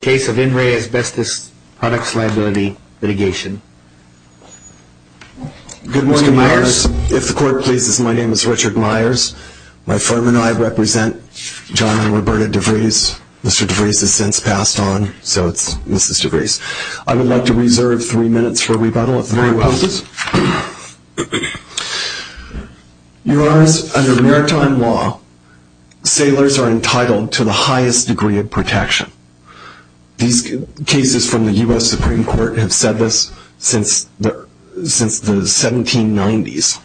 Case of In Re Asbestos Products Liability Litigation. Good morning, Mr. Myers. If the court pleases, my name is Richard Myers. My firm and I represent John and Roberta DeVries. Mr. DeVries has since passed on, so it's Mrs. DeVries. I would like to reserve three minutes for rebuttal. Three minutes. Your Honor, under maritime law, sailors are entitled to the highest degree of protection. These cases from the U.S. Supreme Court have said this since the 1790s.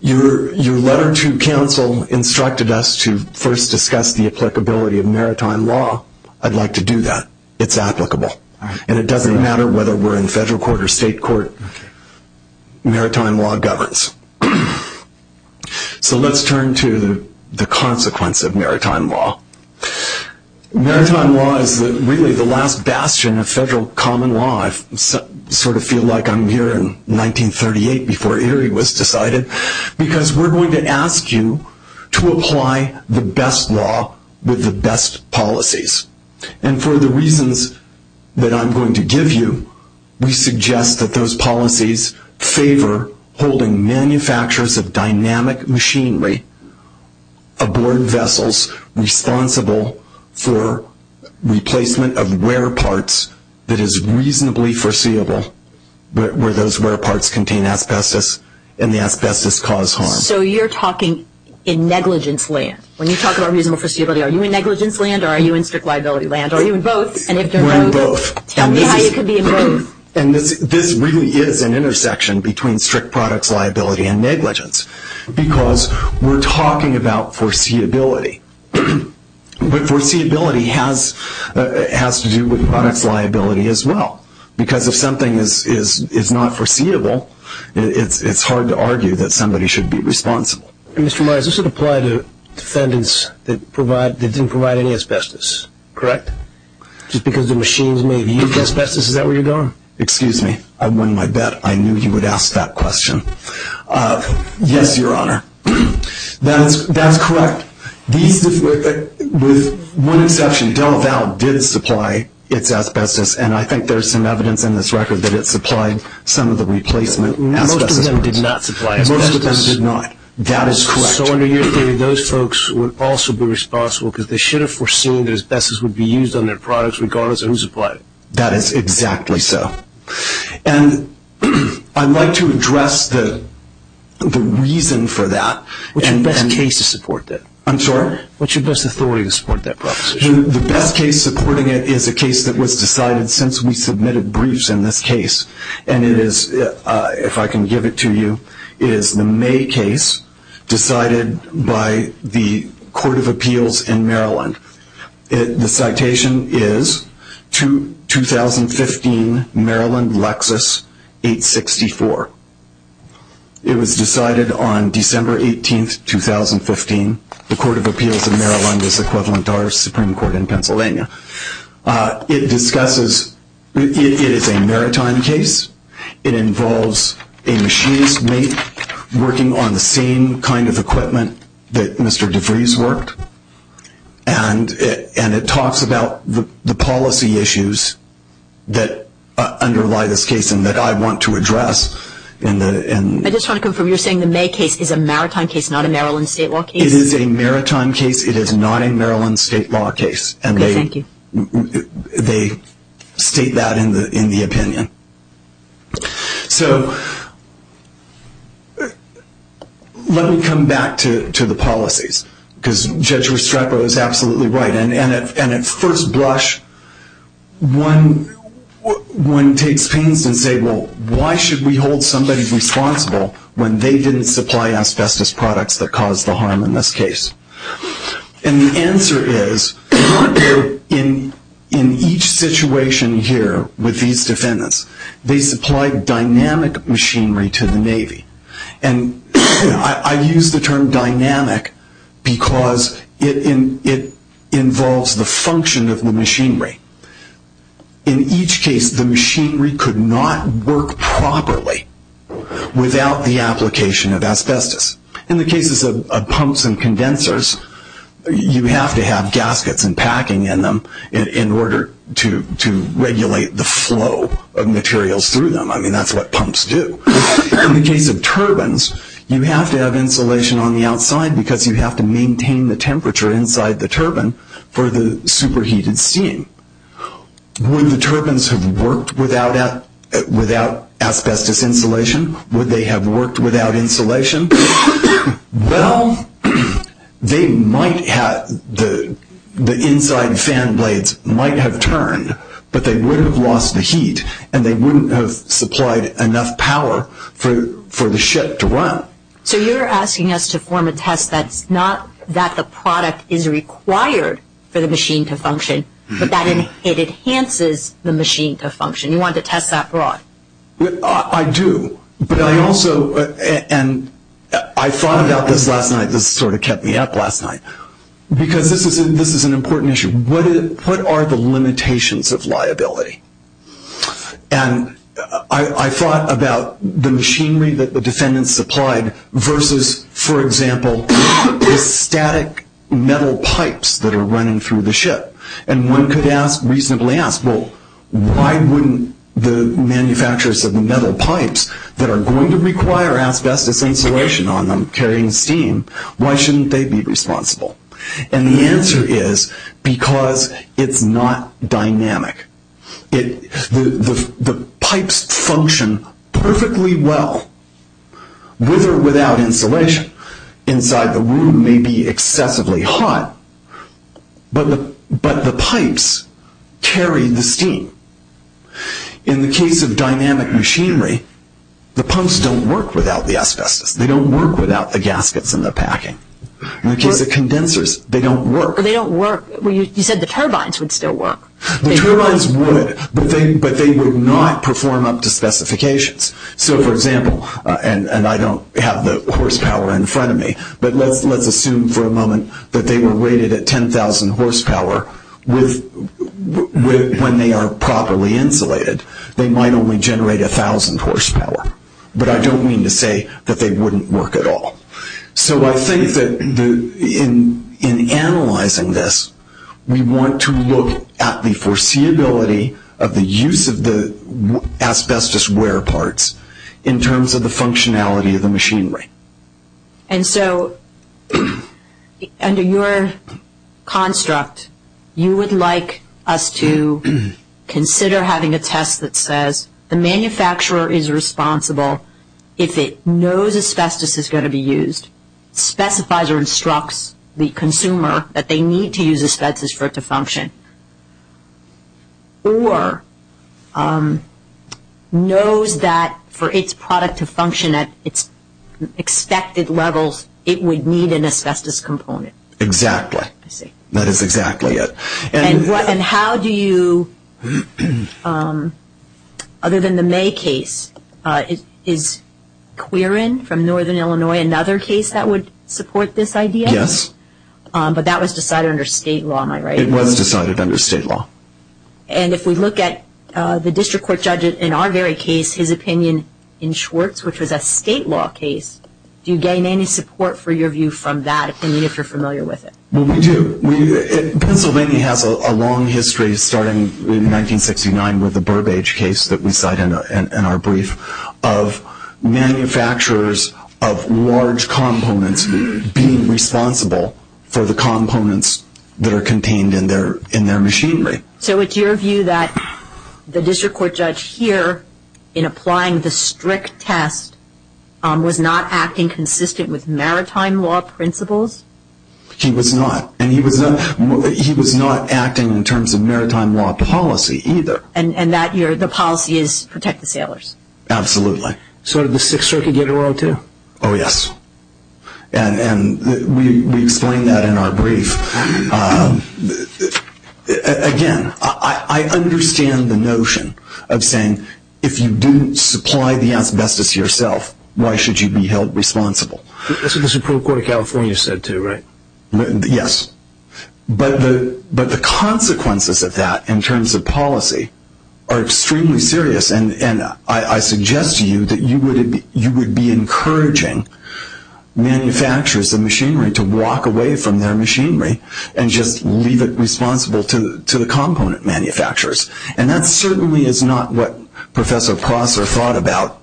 Your letter to counsel instructed us to first discuss the applicability of maritime law. I'd like to do that. It's applicable. And it doesn't matter whether we're in federal court or state court. Maritime law governs. So let's turn to the consequence of maritime law. Maritime law is really the last bastion of federal common law. I sort of feel like I'm here in 1938 before Erie was decided. Because we're going to ask you to apply the best law with the best policies. And for the reasons that I'm going to give you, we suggest that those policies favor holding manufacturers of dynamic machinery aboard vessels responsible for replacement of wear parts that is reasonably foreseeable, where those wear parts contain asbestos and the asbestos cause harm. So you're talking in negligence land. When you talk about reasonable foreseeability, are you in negligence land or are you in strict liability land? Are you in both? We're in both. Tell me how you could be in both. And this really is an intersection between strict products liability and negligence because we're talking about foreseeability. But foreseeability has to do with products liability as well. Because if something is not foreseeable, it's hard to argue that somebody should be responsible. Mr. Myers, this would apply to defendants that didn't provide any asbestos, correct? Just because the machines may have used asbestos, is that where you're going? Excuse me. I won my bet. I knew you would ask that question. Yes, Your Honor. That's correct. With one exception, Delaval did supply its asbestos, and I think there's some evidence in this record that it supplied some of the replacement asbestos. Most of them did not supply asbestos. Most of them did not. That is correct. So under your theory, those folks would also be responsible because they should have foreseen that asbestos would be used on their products regardless of who supplied it. That is exactly so. And I'd like to address the reason for that. What's your best case to support that? I'm sorry? What's your best authority to support that proposition? The best case supporting it is a case that was decided since we submitted briefs in this case, and it is, if I can give it to you, it is the May case decided by the Court of Appeals in Maryland. The citation is 2015 Maryland Lexus 864. It was decided on December 18, 2015. The Court of Appeals in Maryland is equivalent to our Supreme Court in Pennsylvania. It discusses, it is a maritime case. It involves a machinist mate working on the same kind of equipment that Mr. DeVries worked, and it talks about the policy issues that underlie this case and that I want to address. I just want to confirm, you're saying the May case is a maritime case, not a Maryland state law case? It is a maritime case. It is not a Maryland state law case. Okay, thank you. They state that in the opinion. So let me come back to the policies, because Judge Restrepo is absolutely right. And at first blush, one takes pains to say, well, why should we hold somebody responsible when they didn't supply asbestos products that caused the harm in this case? And the answer is, in each situation here with these defendants, they supplied dynamic machinery to the Navy. And I use the term dynamic because it involves the function of the machinery. In each case, the machinery could not work properly without the application of asbestos. In the cases of pumps and condensers, you have to have gaskets and packing in them in order to regulate the flow of materials through them. I mean, that's what pumps do. In the case of turbines, you have to have insulation on the outside because you have to maintain the temperature inside the turbine for the superheated steam. Would the turbines have worked without asbestos insulation? Would they have worked without insulation? Well, the inside fan blades might have turned, but they would have lost the heat, and they wouldn't have supplied enough power for the ship to run. So you're asking us to form a test that's not that the product is required for the machine to function, but that it enhances the machine to function. You want to test that broad? I do, but I also, and I thought about this last night. This sort of kept me up last night because this is an important issue. What are the limitations of liability? And I thought about the machinery that the defendants supplied versus, for example, the static metal pipes that are running through the ship. And one could reasonably ask, well, why wouldn't the manufacturers of the metal pipes that are going to require asbestos insulation on them carrying steam, why shouldn't they be responsible? And the answer is because it's not dynamic. The pipes function perfectly well with or without insulation. Inside the room may be excessively hot, but the pipes carry the steam. In the case of dynamic machinery, the pumps don't work without the asbestos. They don't work without the gaskets and the packing. In the case of condensers, they don't work. They don't work. You said the turbines would still work. The turbines would, but they would not perform up to specifications. So, for example, and I don't have the horsepower in front of me, but let's assume for a moment that they were rated at 10,000 horsepower when they are properly insulated. They might only generate 1,000 horsepower, but I don't mean to say that they wouldn't work at all. So I think that in analyzing this, we want to look at the foreseeability of the use of the asbestos wear parts in terms of the functionality of the machinery. And so under your construct, you would like us to consider having a test that says the manufacturer is responsible if it knows asbestos is going to be used, specifies or instructs the consumer that they need to use asbestos for it to function, or knows that for its product to function at its expected levels, it would need an asbestos component. Exactly. I see. That is exactly it. And how do you, other than the May case, is Querin from Northern Illinois another case that would support this idea? Yes. But that was decided under state law, am I right? It was decided under state law. And if we look at the district court judge in our very case, his opinion in Schwartz, which was a state law case, do you gain any support for your view from that opinion if you're familiar with it? Well, we do. Pennsylvania has a long history starting in 1969 with the Burbage case that we cite in our brief of manufacturers of large components being responsible for the components that are contained in their machinery. So it's your view that the district court judge here, in applying the strict test, was not acting consistent with maritime law principles? He was not. And he was not acting in terms of maritime law policy either. And the policy is protect the sailors? Absolutely. So did the Sixth Circuit get a roll, too? Oh, yes. And we explain that in our brief. Again, I understand the notion of saying if you do supply the asbestos yourself, why should you be held responsible? That's what the Supreme Court of California said, too, right? Yes. But the consequences of that in terms of policy are extremely serious. And I suggest to you that you would be encouraging manufacturers of machinery to walk away from their machinery and just leave it responsible to the component manufacturers. And that certainly is not what Professor Prosser thought about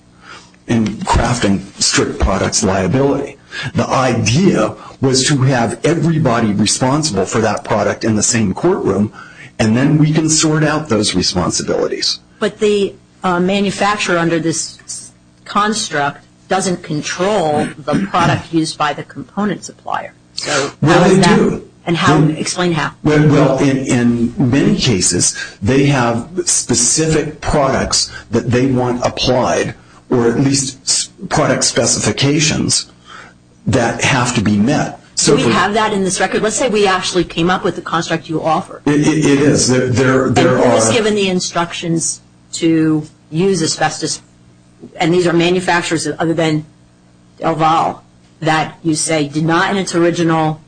in crafting strict products liability. The idea was to have everybody responsible for that product in the same courtroom, and then we can sort out those responsibilities. But the manufacturer under this construct doesn't control the product used by the component supplier. Well, they do. Explain how. Well, in many cases, they have specific products that they want applied or at least product specifications that have to be met. Do we have that in this record? Let's say we actually came up with the construct you offer. It is. It is given the instructions to use asbestos, and these are manufacturers other than DelVal that you say did not, in its original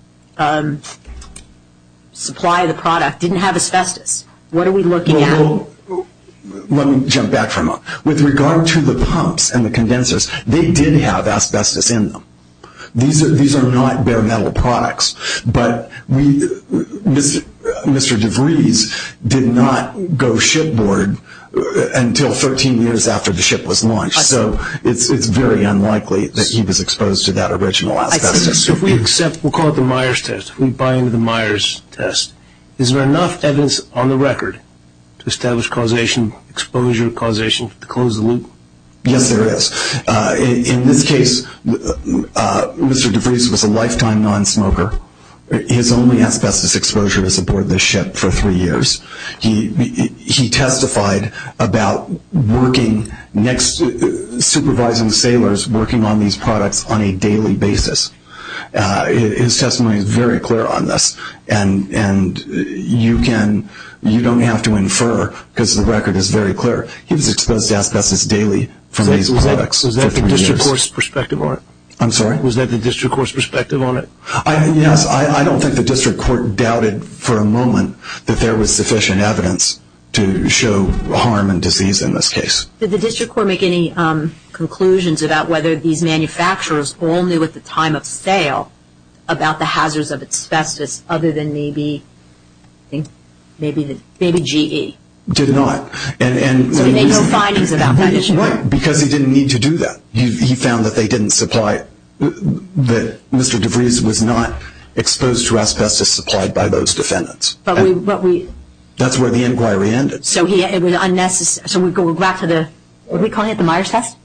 supply of the product, didn't have asbestos. What are we looking at? Well, let me jump back for a moment. With regard to the pumps and the condensers, they did have asbestos in them. These are not bare metal products. But Mr. DeVries did not go shipboard until 13 years after the ship was launched, so it's very unlikely that he was exposed to that original asbestos. If we accept, we'll call it the Myers test, if we buy into the Myers test, is there enough evidence on the record to establish causation, exposure causation, to close the loop? Yes, there is. In this case, Mr. DeVries was a lifetime non-smoker. His only asbestos exposure was aboard this ship for three years. He testified about supervising sailors working on these products on a daily basis. His testimony is very clear on this, and you don't have to infer because the record is very clear. He was exposed to asbestos daily from these products for three years. Was that the district court's perspective on it? I'm sorry? Was that the district court's perspective on it? Yes. I don't think the district court doubted for a moment that there was sufficient evidence to show harm and disease in this case. Did the district court make any conclusions about whether these manufacturers all knew at the time of sale about the hazards of asbestos other than maybe GE? Did not. So he made no findings about that issue? No, because he didn't need to do that. He found that they didn't supply, that Mr. DeVries was not exposed to asbestos supplied by those defendants. That's where the inquiry ended. So we go back to the, what are we calling it, the Myers test?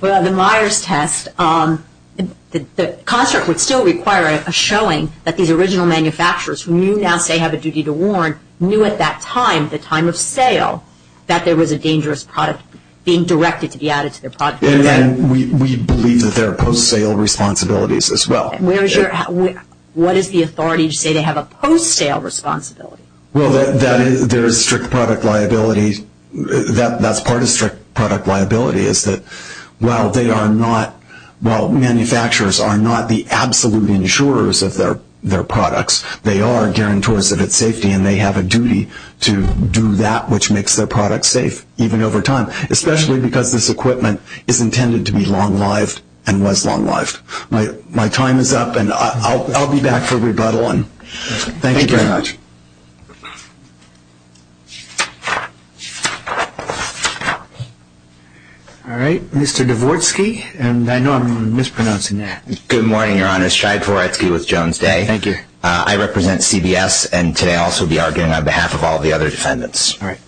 Well, the Myers test, the construct would still require a showing that these original manufacturers who you now say have a duty to warn knew at that time, the time of sale, that there was a dangerous product being directed to be added to their product. And we believe that there are post-sale responsibilities as well. What is the authority to say they have a post-sale responsibility? Well, there is strict product liability. That's part of strict product liability is that while manufacturers are not the absolute insurers of their products, they are guarantors of its safety and they have a duty to do that which makes their products safe even over time, especially because this equipment is intended to be long-lived and was long-lived. My time is up and I'll be back for rebuttal. Thank you very much. All right. Mr. Dvorsky, and I know I'm mispronouncing that. Good morning, Your Honor. Shai Dvorsky with Jones Day. Thank you. I represent CBS and today I'll also be arguing on behalf of all the other defendants. All right.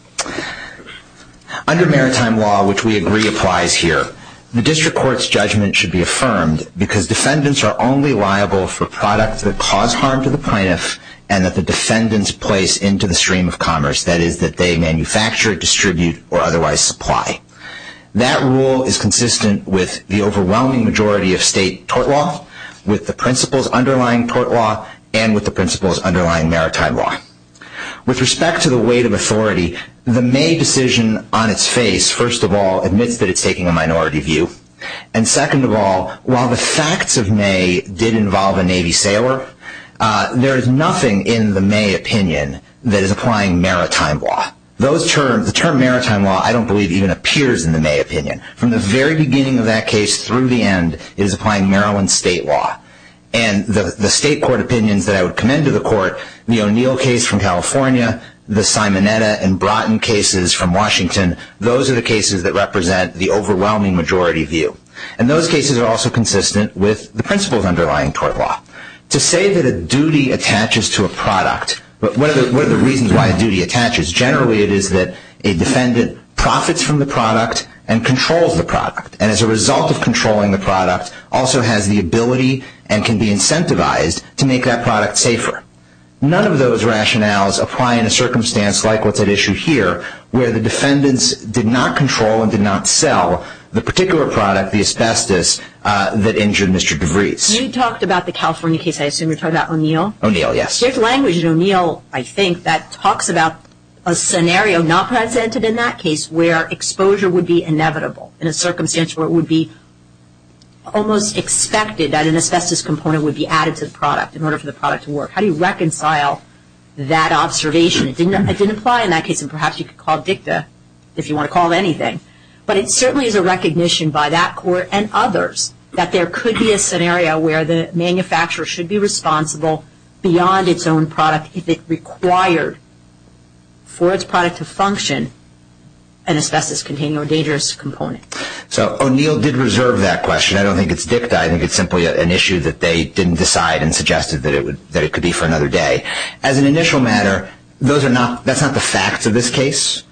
Under maritime law, which we agree applies here, the district court's judgment should be affirmed because defendants are only liable for products that cause harm to the plaintiff and that the defendants place into the stream of commerce, that is that they manufacture, distribute, or otherwise supply. That rule is consistent with the overwhelming majority of state tort law, with the principles underlying tort law, and with the principles underlying maritime law. With respect to the weight of authority, the May decision on its face, first of all, admits that it's taking a minority view. And second of all, while the facts of May did involve a Navy sailor, there is nothing in the May opinion that is applying maritime law. The term maritime law I don't believe even appears in the May opinion. From the very beginning of that case through the end, it is applying Maryland state law. And the state court opinions that I would commend to the court, the O'Neill case from California, the Simonetta and Broughton cases from Washington, those are the cases that represent the overwhelming majority view. And those cases are also consistent with the principles underlying tort law. To say that a duty attaches to a product, what are the reasons why a duty attaches? Generally it is that a defendant profits from the product and controls the product. And as a result of controlling the product, also has the ability and can be incentivized to make that product safer. None of those rationales apply in a circumstance like what's at issue here, where the defendants did not control and did not sell the particular product, the asbestos, that injured Mr. DeVries. You talked about the California case, I assume you're talking about O'Neill? O'Neill, yes. There's language in O'Neill, I think, that talks about a scenario not presented in that case where exposure would be inevitable in a circumstance where it would be almost expected that an asbestos component would be added to the product in order for the product to work. How do you reconcile that observation? It didn't apply in that case and perhaps you could call DICTA if you want to call it anything. But it certainly is a recognition by that court and others that there could be a scenario where the manufacturer should be responsible beyond its own product if it required for its product to function an asbestos containing or dangerous component. So O'Neill did reserve that question. I don't think it's DICTA. I think it's simply an issue that they didn't decide and suggested that it could be for another day. As an initial matter, that's not the facts of this case.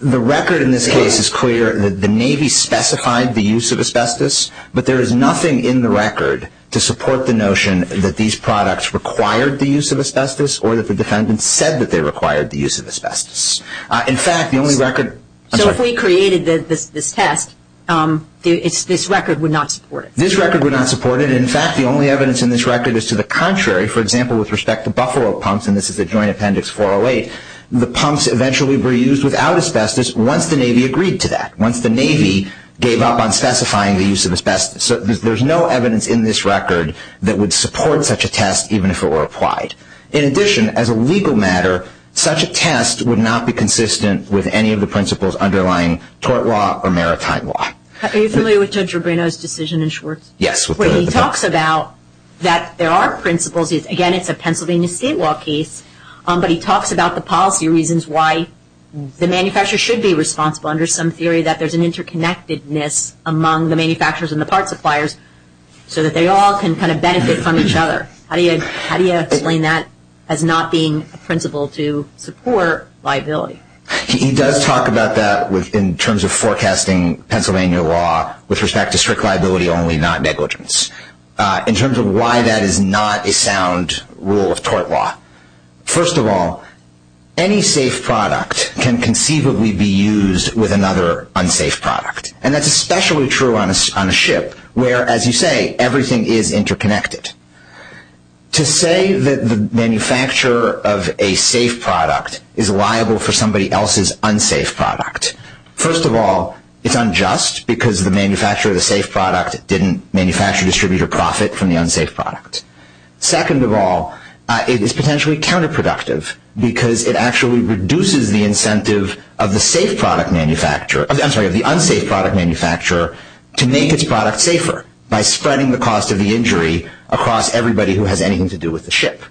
The record in this case is clear that the Navy specified the use of asbestos, but there is nothing in the record to support the notion that these products required the use of asbestos or that the defendants said that they required the use of asbestos. In fact, the only record- So if we created this test, this record would not support it? This record would not support it. In fact, the only evidence in this record is to the contrary. For example, with respect to Buffalo pumps, and this is the Joint Appendix 408, the pumps eventually were used without asbestos once the Navy agreed to that, once the Navy gave up on specifying the use of asbestos. So there's no evidence in this record that would support such a test even if it were applied. In addition, as a legal matter, such a test would not be consistent with any of the principles underlying tort law or maritime law. Are you familiar with Judge Rubino's decision in Schwartz? Yes. He talks about that there are principles. Again, it's a Pennsylvania state law case, but he talks about the policy reasons why the manufacturer should be responsible under some theory that there's an interconnectedness among the manufacturers and the parts suppliers so that they all can benefit from each other. How do you explain that as not being a principle to support liability? He does talk about that in terms of forecasting Pennsylvania law with respect to strict liability only, not negligence. In terms of why that is not a sound rule of tort law, first of all, any safe product can conceivably be used with another unsafe product. And that's especially true on a ship where, as you say, everything is interconnected. To say that the manufacturer of a safe product is liable for somebody else's unsafe product, first of all, it's unjust because the manufacturer of the safe product didn't manufacture, distribute, or profit from the unsafe product. Second of all, it is potentially counterproductive because it actually reduces the incentive of the unsafe product manufacturer to make its product safer by spreading the cost of the injury across everybody who has anything to do with the ship.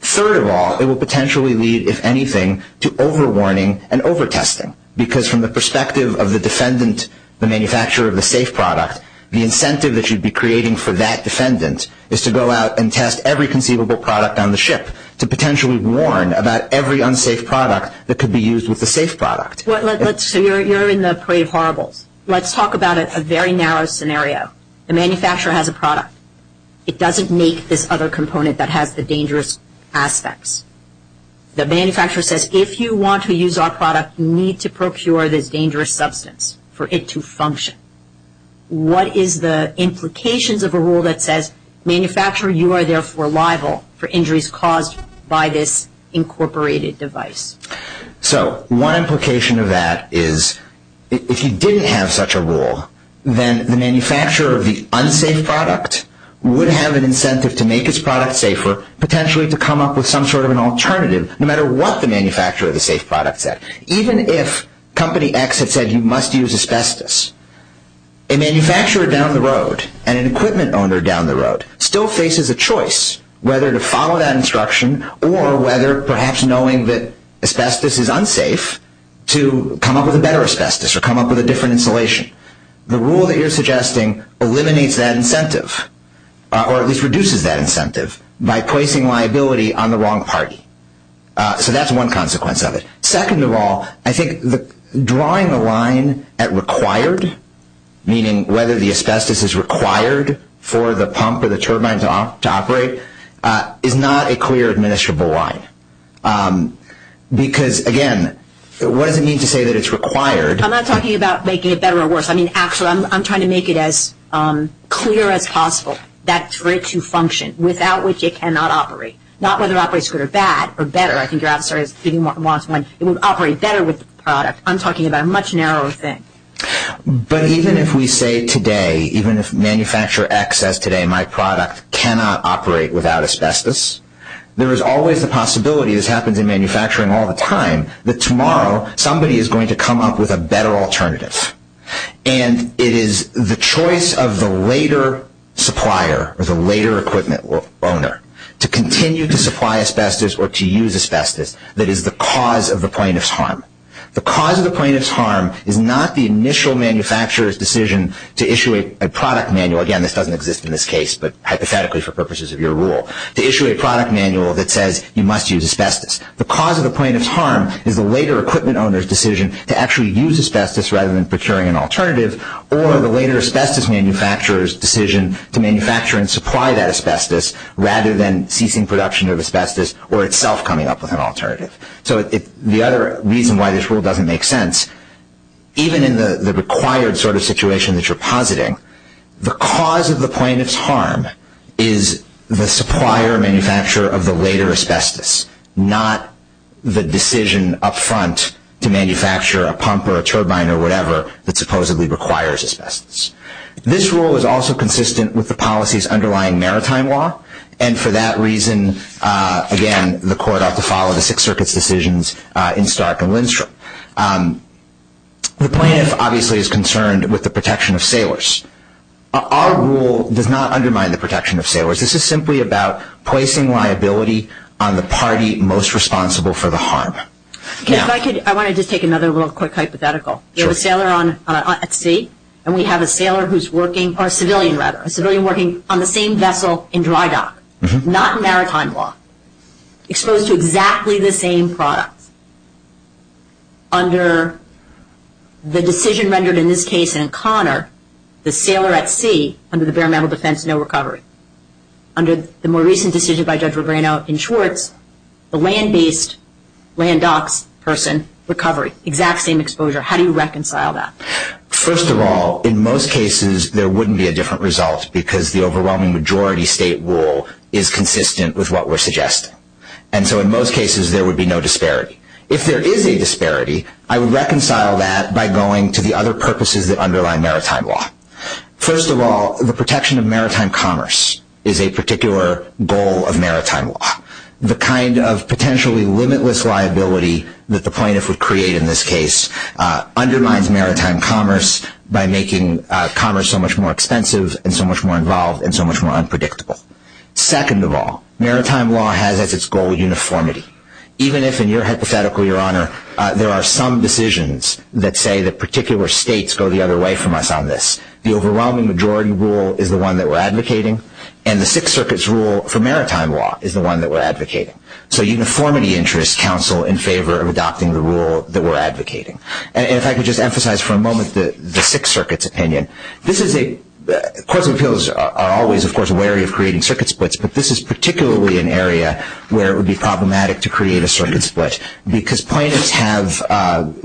Third of all, it will potentially lead, if anything, to over-warning and over-testing because from the perspective of the defendant, the manufacturer of the safe product, the incentive that you'd be creating for that defendant is to go out and test every conceivable product on the ship to potentially warn about every unsafe product that could be used with the safe product. So you're in the parade of horribles. Let's talk about a very narrow scenario. The manufacturer has a product. It doesn't make this other component that has the dangerous aspects. The manufacturer says, if you want to use our product, you need to procure this dangerous substance for it to function. What is the implications of a rule that says, manufacturer, you are therefore liable for injuries caused by this incorporated device? So one implication of that is if you didn't have such a rule, then the manufacturer of the unsafe product would have an incentive to make its product safer, potentially to come up with some sort of an alternative, no matter what the manufacturer of the safe product said. Even if Company X had said you must use asbestos, a manufacturer down the road and an equipment owner down the road still faces a choice whether to follow that instruction or whether, perhaps knowing that asbestos is unsafe, to come up with a better asbestos or come up with a different insulation. The rule that you're suggesting eliminates that incentive, or at least reduces that incentive, by placing liability on the wrong party. So that's one consequence of it. Second of all, I think drawing a line at required, meaning whether the asbestos is required for the pump or the turbine to operate, is not a clear, administrable line. Because, again, what does it mean to say that it's required? I'm not talking about making it better or worse. Actually, I'm trying to make it as clear as possible that for it to function, without which it cannot operate. Not whether it operates good or bad, or better. I think your answer is it would operate better with the product. I'm talking about a much narrower thing. But even if we say today, even if manufacturer X says today, my product cannot operate without asbestos, there is always the possibility, this happens in manufacturing all the time, that tomorrow somebody is going to come up with a better alternative. And it is the choice of the later supplier, or the later equipment owner, to continue to supply asbestos or to use asbestos, that is the cause of the plaintiff's harm. The cause of the plaintiff's harm is not the initial manufacturer's decision to issue a product manual. Again, this doesn't exist in this case, but hypothetically for purposes of your rule, to issue a product manual that says you must use asbestos. The cause of the plaintiff's harm is the later equipment owner's decision to actually use asbestos rather than procuring an alternative, or the later asbestos manufacturer's decision to manufacture and supply that asbestos rather than ceasing production of asbestos or itself coming up with an alternative. So the other reason why this rule doesn't make sense, even in the required sort of situation that you're positing, the cause of the plaintiff's harm is the supplier-manufacturer of the later asbestos, not the decision up front to manufacture a pump or a turbine or whatever that supposedly requires asbestos. This rule is also consistent with the policies underlying maritime law, and for that reason, again, the court ought to follow the Sixth Circuit's decisions in Stark and Lindstrom. The plaintiff obviously is concerned with the protection of sailors. Our rule does not undermine the protection of sailors. This is simply about placing liability on the party most responsible for the harm. If I could, I wanted to take another little quick hypothetical. You have a sailor at sea, and we have a civilian working on the same vessel in dry dock, not maritime law, exposed to exactly the same products. Under the decision rendered in this case in Conner, the sailor at sea, under the bare metal defense, no recovery. Under the more recent decision by Judge Regreno in Schwartz, the land-based, land-docks person, recovery, exact same exposure. How do you reconcile that? First of all, in most cases, there wouldn't be a different result because the overwhelming majority state rule is consistent with what we're suggesting. And so in most cases, there would be no disparity. If there is a disparity, I would reconcile that by going to the other purposes that underlie maritime law. First of all, the protection of maritime commerce is a particular goal of maritime law. The kind of potentially limitless liability that the plaintiff would create in this case undermines maritime commerce by making commerce so much more expensive and so much more involved and so much more unpredictable. Second of all, maritime law has as its goal uniformity. Even if, in your hypothetical, Your Honor, there are some decisions that say that particular states go the other way from us on this, the overwhelming majority rule is the one that we're advocating, and the Sixth Circuit's rule for maritime Law is the one that we're advocating. So uniformity interests counsel in favor of adopting the rule that we're advocating. And if I could just emphasize for a moment the Sixth Circuit's opinion. Courts of appeals are always, of course, wary of creating circuit splits, but this is particularly an area where it would be problematic to create a circuit split because plaintiffs have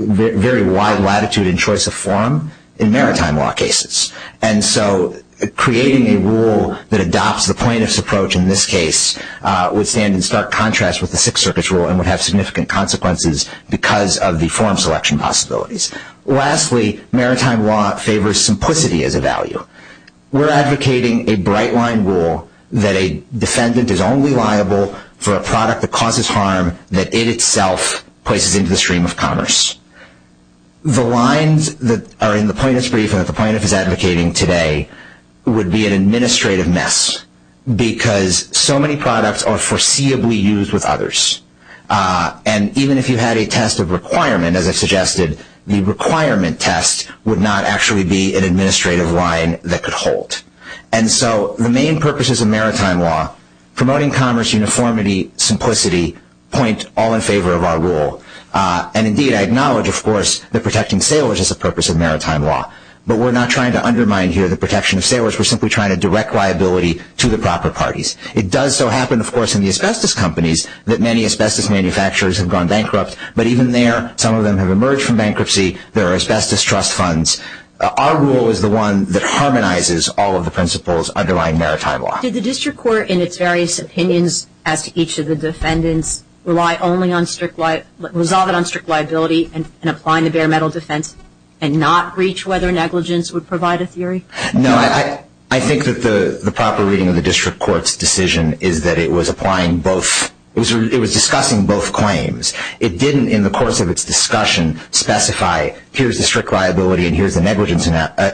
very wide latitude in choice of form in maritime law cases. And so creating a rule that adopts the plaintiff's approach in this case would stand in stark contrast with the Sixth Circuit's rule and would have significant consequences because of the form selection possibilities. Lastly, maritime law favors simplicity as a value. We're advocating a bright-line rule that a defendant is only liable for a product that causes harm that it itself places into the stream of commerce. The lines that are in the plaintiff's brief that the plaintiff is advocating today would be an administrative mess because so many products are foreseeably used with others. And even if you had a test of requirement, as I've suggested, the requirement test would not actually be an administrative line that could hold. And so the main purposes of maritime law, promoting commerce, uniformity, simplicity, point all in favor of our rule. And indeed, I acknowledge, of course, that protecting sailors is a purpose of maritime law. But we're not trying to undermine here the protection of sailors. We're simply trying to direct liability to the proper parties. It does so happen, of course, in the asbestos companies that many asbestos manufacturers have gone bankrupt. But even there, some of them have emerged from bankruptcy. There are asbestos trust funds. Our rule is the one that harmonizes all of the principles underlying maritime law. Did the district court in its various opinions as to each of the defendants rely only on strict liability and applying the bare metal defense and not reach whether negligence would provide a theory? No, I think that the proper reading of the district court's decision is that it was applying both. It was discussing both claims. It didn't, in the course of its discussion, specify, here's the strict liability and here's the negligence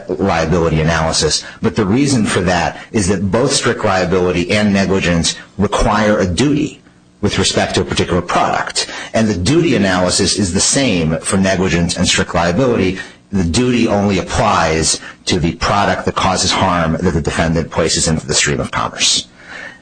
liability analysis. But the reason for that is that both strict liability and negligence require a duty with respect to a particular product. And the duty analysis is the same for negligence and strict liability. The duty only applies to the product that causes harm that the defendant places into the stream of commerce.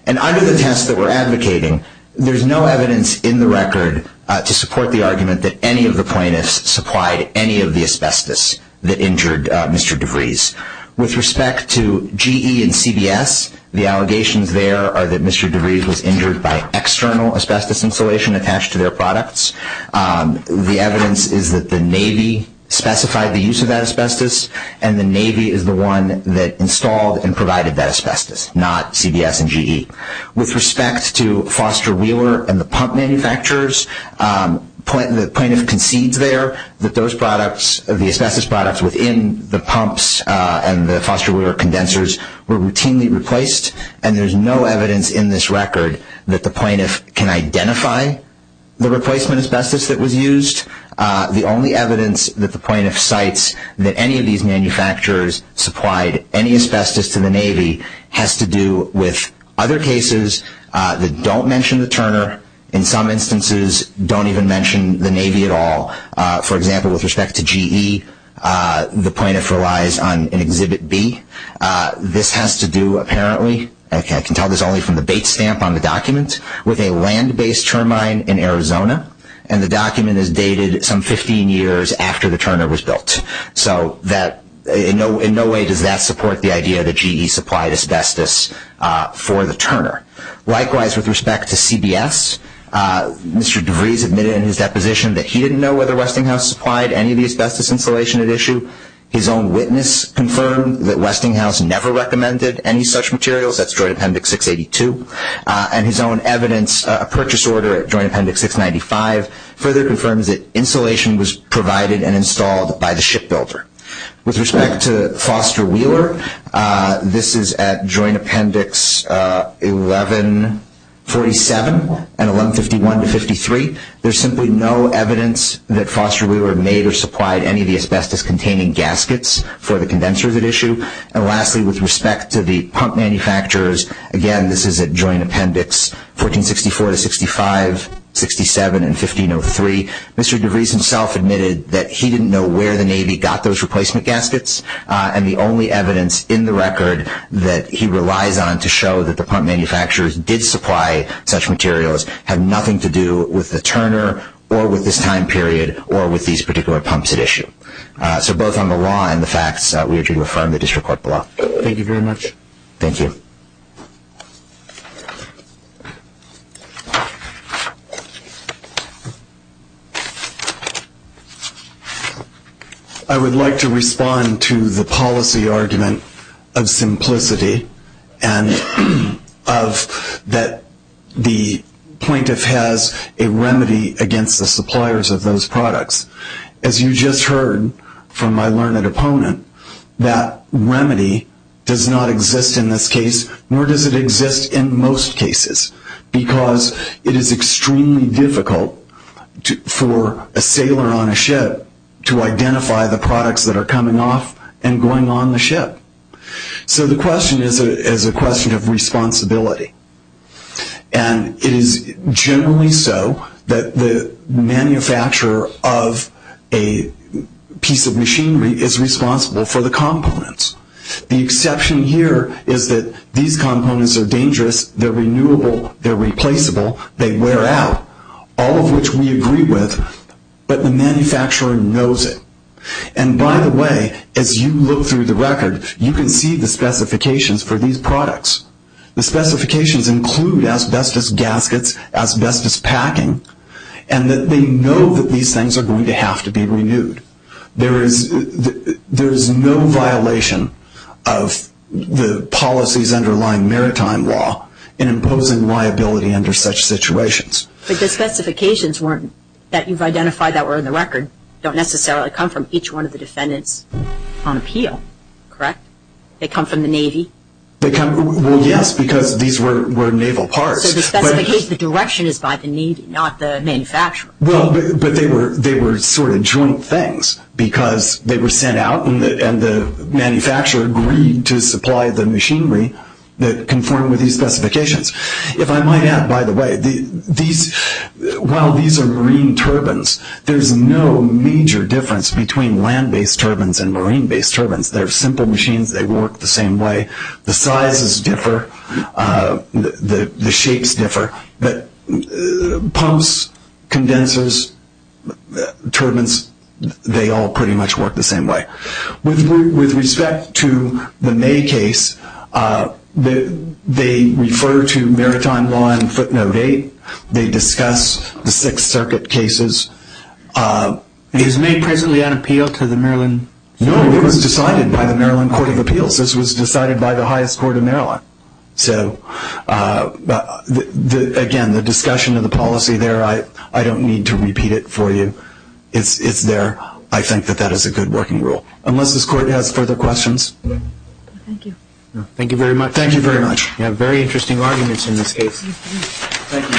And under the test that we're advocating, there's no evidence in the record to support the argument that any of the plaintiffs supplied any of the asbestos that injured Mr. DeVries. With respect to GE and CBS, the allegations there are that Mr. DeVries was injured by external asbestos insulation attached to their products. The evidence is that the Navy specified the use of that asbestos and the Navy is the one that installed and provided that asbestos, not CBS and GE. With respect to Foster-Wheeler and the pump manufacturers, the plaintiff concedes there that those products, the asbestos products, within the pumps and the Foster-Wheeler condensers were routinely replaced and there's no evidence in this record that the plaintiff can identify the replacement asbestos that was used. The only evidence that the plaintiff cites that any of these manufacturers supplied any asbestos to the Navy has to do with other cases that don't mention the Turner. In some instances, don't even mention the Navy at all. For example, with respect to GE, the plaintiff relies on an Exhibit B. This has to do, apparently, I can tell this only from the bait stamp on the document, with a land-based turbine in Arizona. And the document is dated some 15 years after the Turner was built. So in no way does that support the idea that GE supplied asbestos for the Turner. Likewise, with respect to CBS, Mr. DeVries admitted in his deposition that he didn't know whether Westinghouse supplied any of the asbestos insulation at issue. His own witness confirmed that Westinghouse never recommended any such materials. That's Joint Appendix 682. And his own evidence, a purchase order at Joint Appendix 695, further confirms that insulation was provided and installed by the shipbuilder. With respect to Foster-Wheeler, this is at Joint Appendix 1147 and 1151-53. There's simply no evidence that Foster-Wheeler made or supplied any of the asbestos-containing gaskets for the condensers at issue. And lastly, with respect to the pump manufacturers, again, this is at Joint Appendix 1464-65, 67, and 1503. Mr. DeVries himself admitted that he didn't know where the Navy got those replacement gaskets. And the only evidence in the record that he relies on to show that the pump manufacturers did supply such materials had nothing to do with the Turner or with this time period or with these particular pumps at issue. So both on the law and the facts, we urge you to affirm the district court below. Thank you very much. Thank you. I would like to respond to the policy argument of simplicity and of that the plaintiff has a remedy against the suppliers of those products. As you just heard from my learned opponent, that remedy does not exist in this case, nor does it exist in most cases, because it is extremely difficult for a sailor on a ship to identify the products that are coming off and going on the ship. So the question is a question of responsibility. And it is generally so that the manufacturer of a piece of machinery is responsible for the components. The exception here is that these components are dangerous, they're renewable, they're replaceable, they wear out, all of which we agree with, but the manufacturer knows it. And by the way, as you look through the record, you can see the specifications for these products. The specifications include asbestos gaskets, asbestos packing, and that they know that these things are going to have to be renewed. There is no violation of the policies underlying maritime law in imposing liability under such situations. But the specifications that you've identified that were in the record don't necessarily come from each one of the defendants on appeal, correct? They come from the Navy? Well, yes, because these were naval parts. So the direction is by the Navy, not the manufacturer. Well, but they were sort of joint things, because they were sent out and the manufacturer agreed to supply the machinery that conformed with these specifications. If I might add, by the way, while these are marine turbines, there's no major difference between land-based turbines and marine-based turbines. They're simple machines. They work the same way. The sizes differ. The shapes differ. But pumps, condensers, turbines, they all pretty much work the same way. With respect to the May case, they refer to maritime law in footnote 8. They discuss the Sixth Circuit cases. Is May presently on appeal to the Maryland Supreme Court? No, it was decided by the Maryland Court of Appeals. This was decided by the highest court in Maryland. So, again, the discussion of the policy there, I don't need to repeat it for you. It's there. I think that that is a good working rule. Unless this court has further questions. Thank you. Thank you very much. Thank you very much. You have very interesting arguments in this case. Thank you.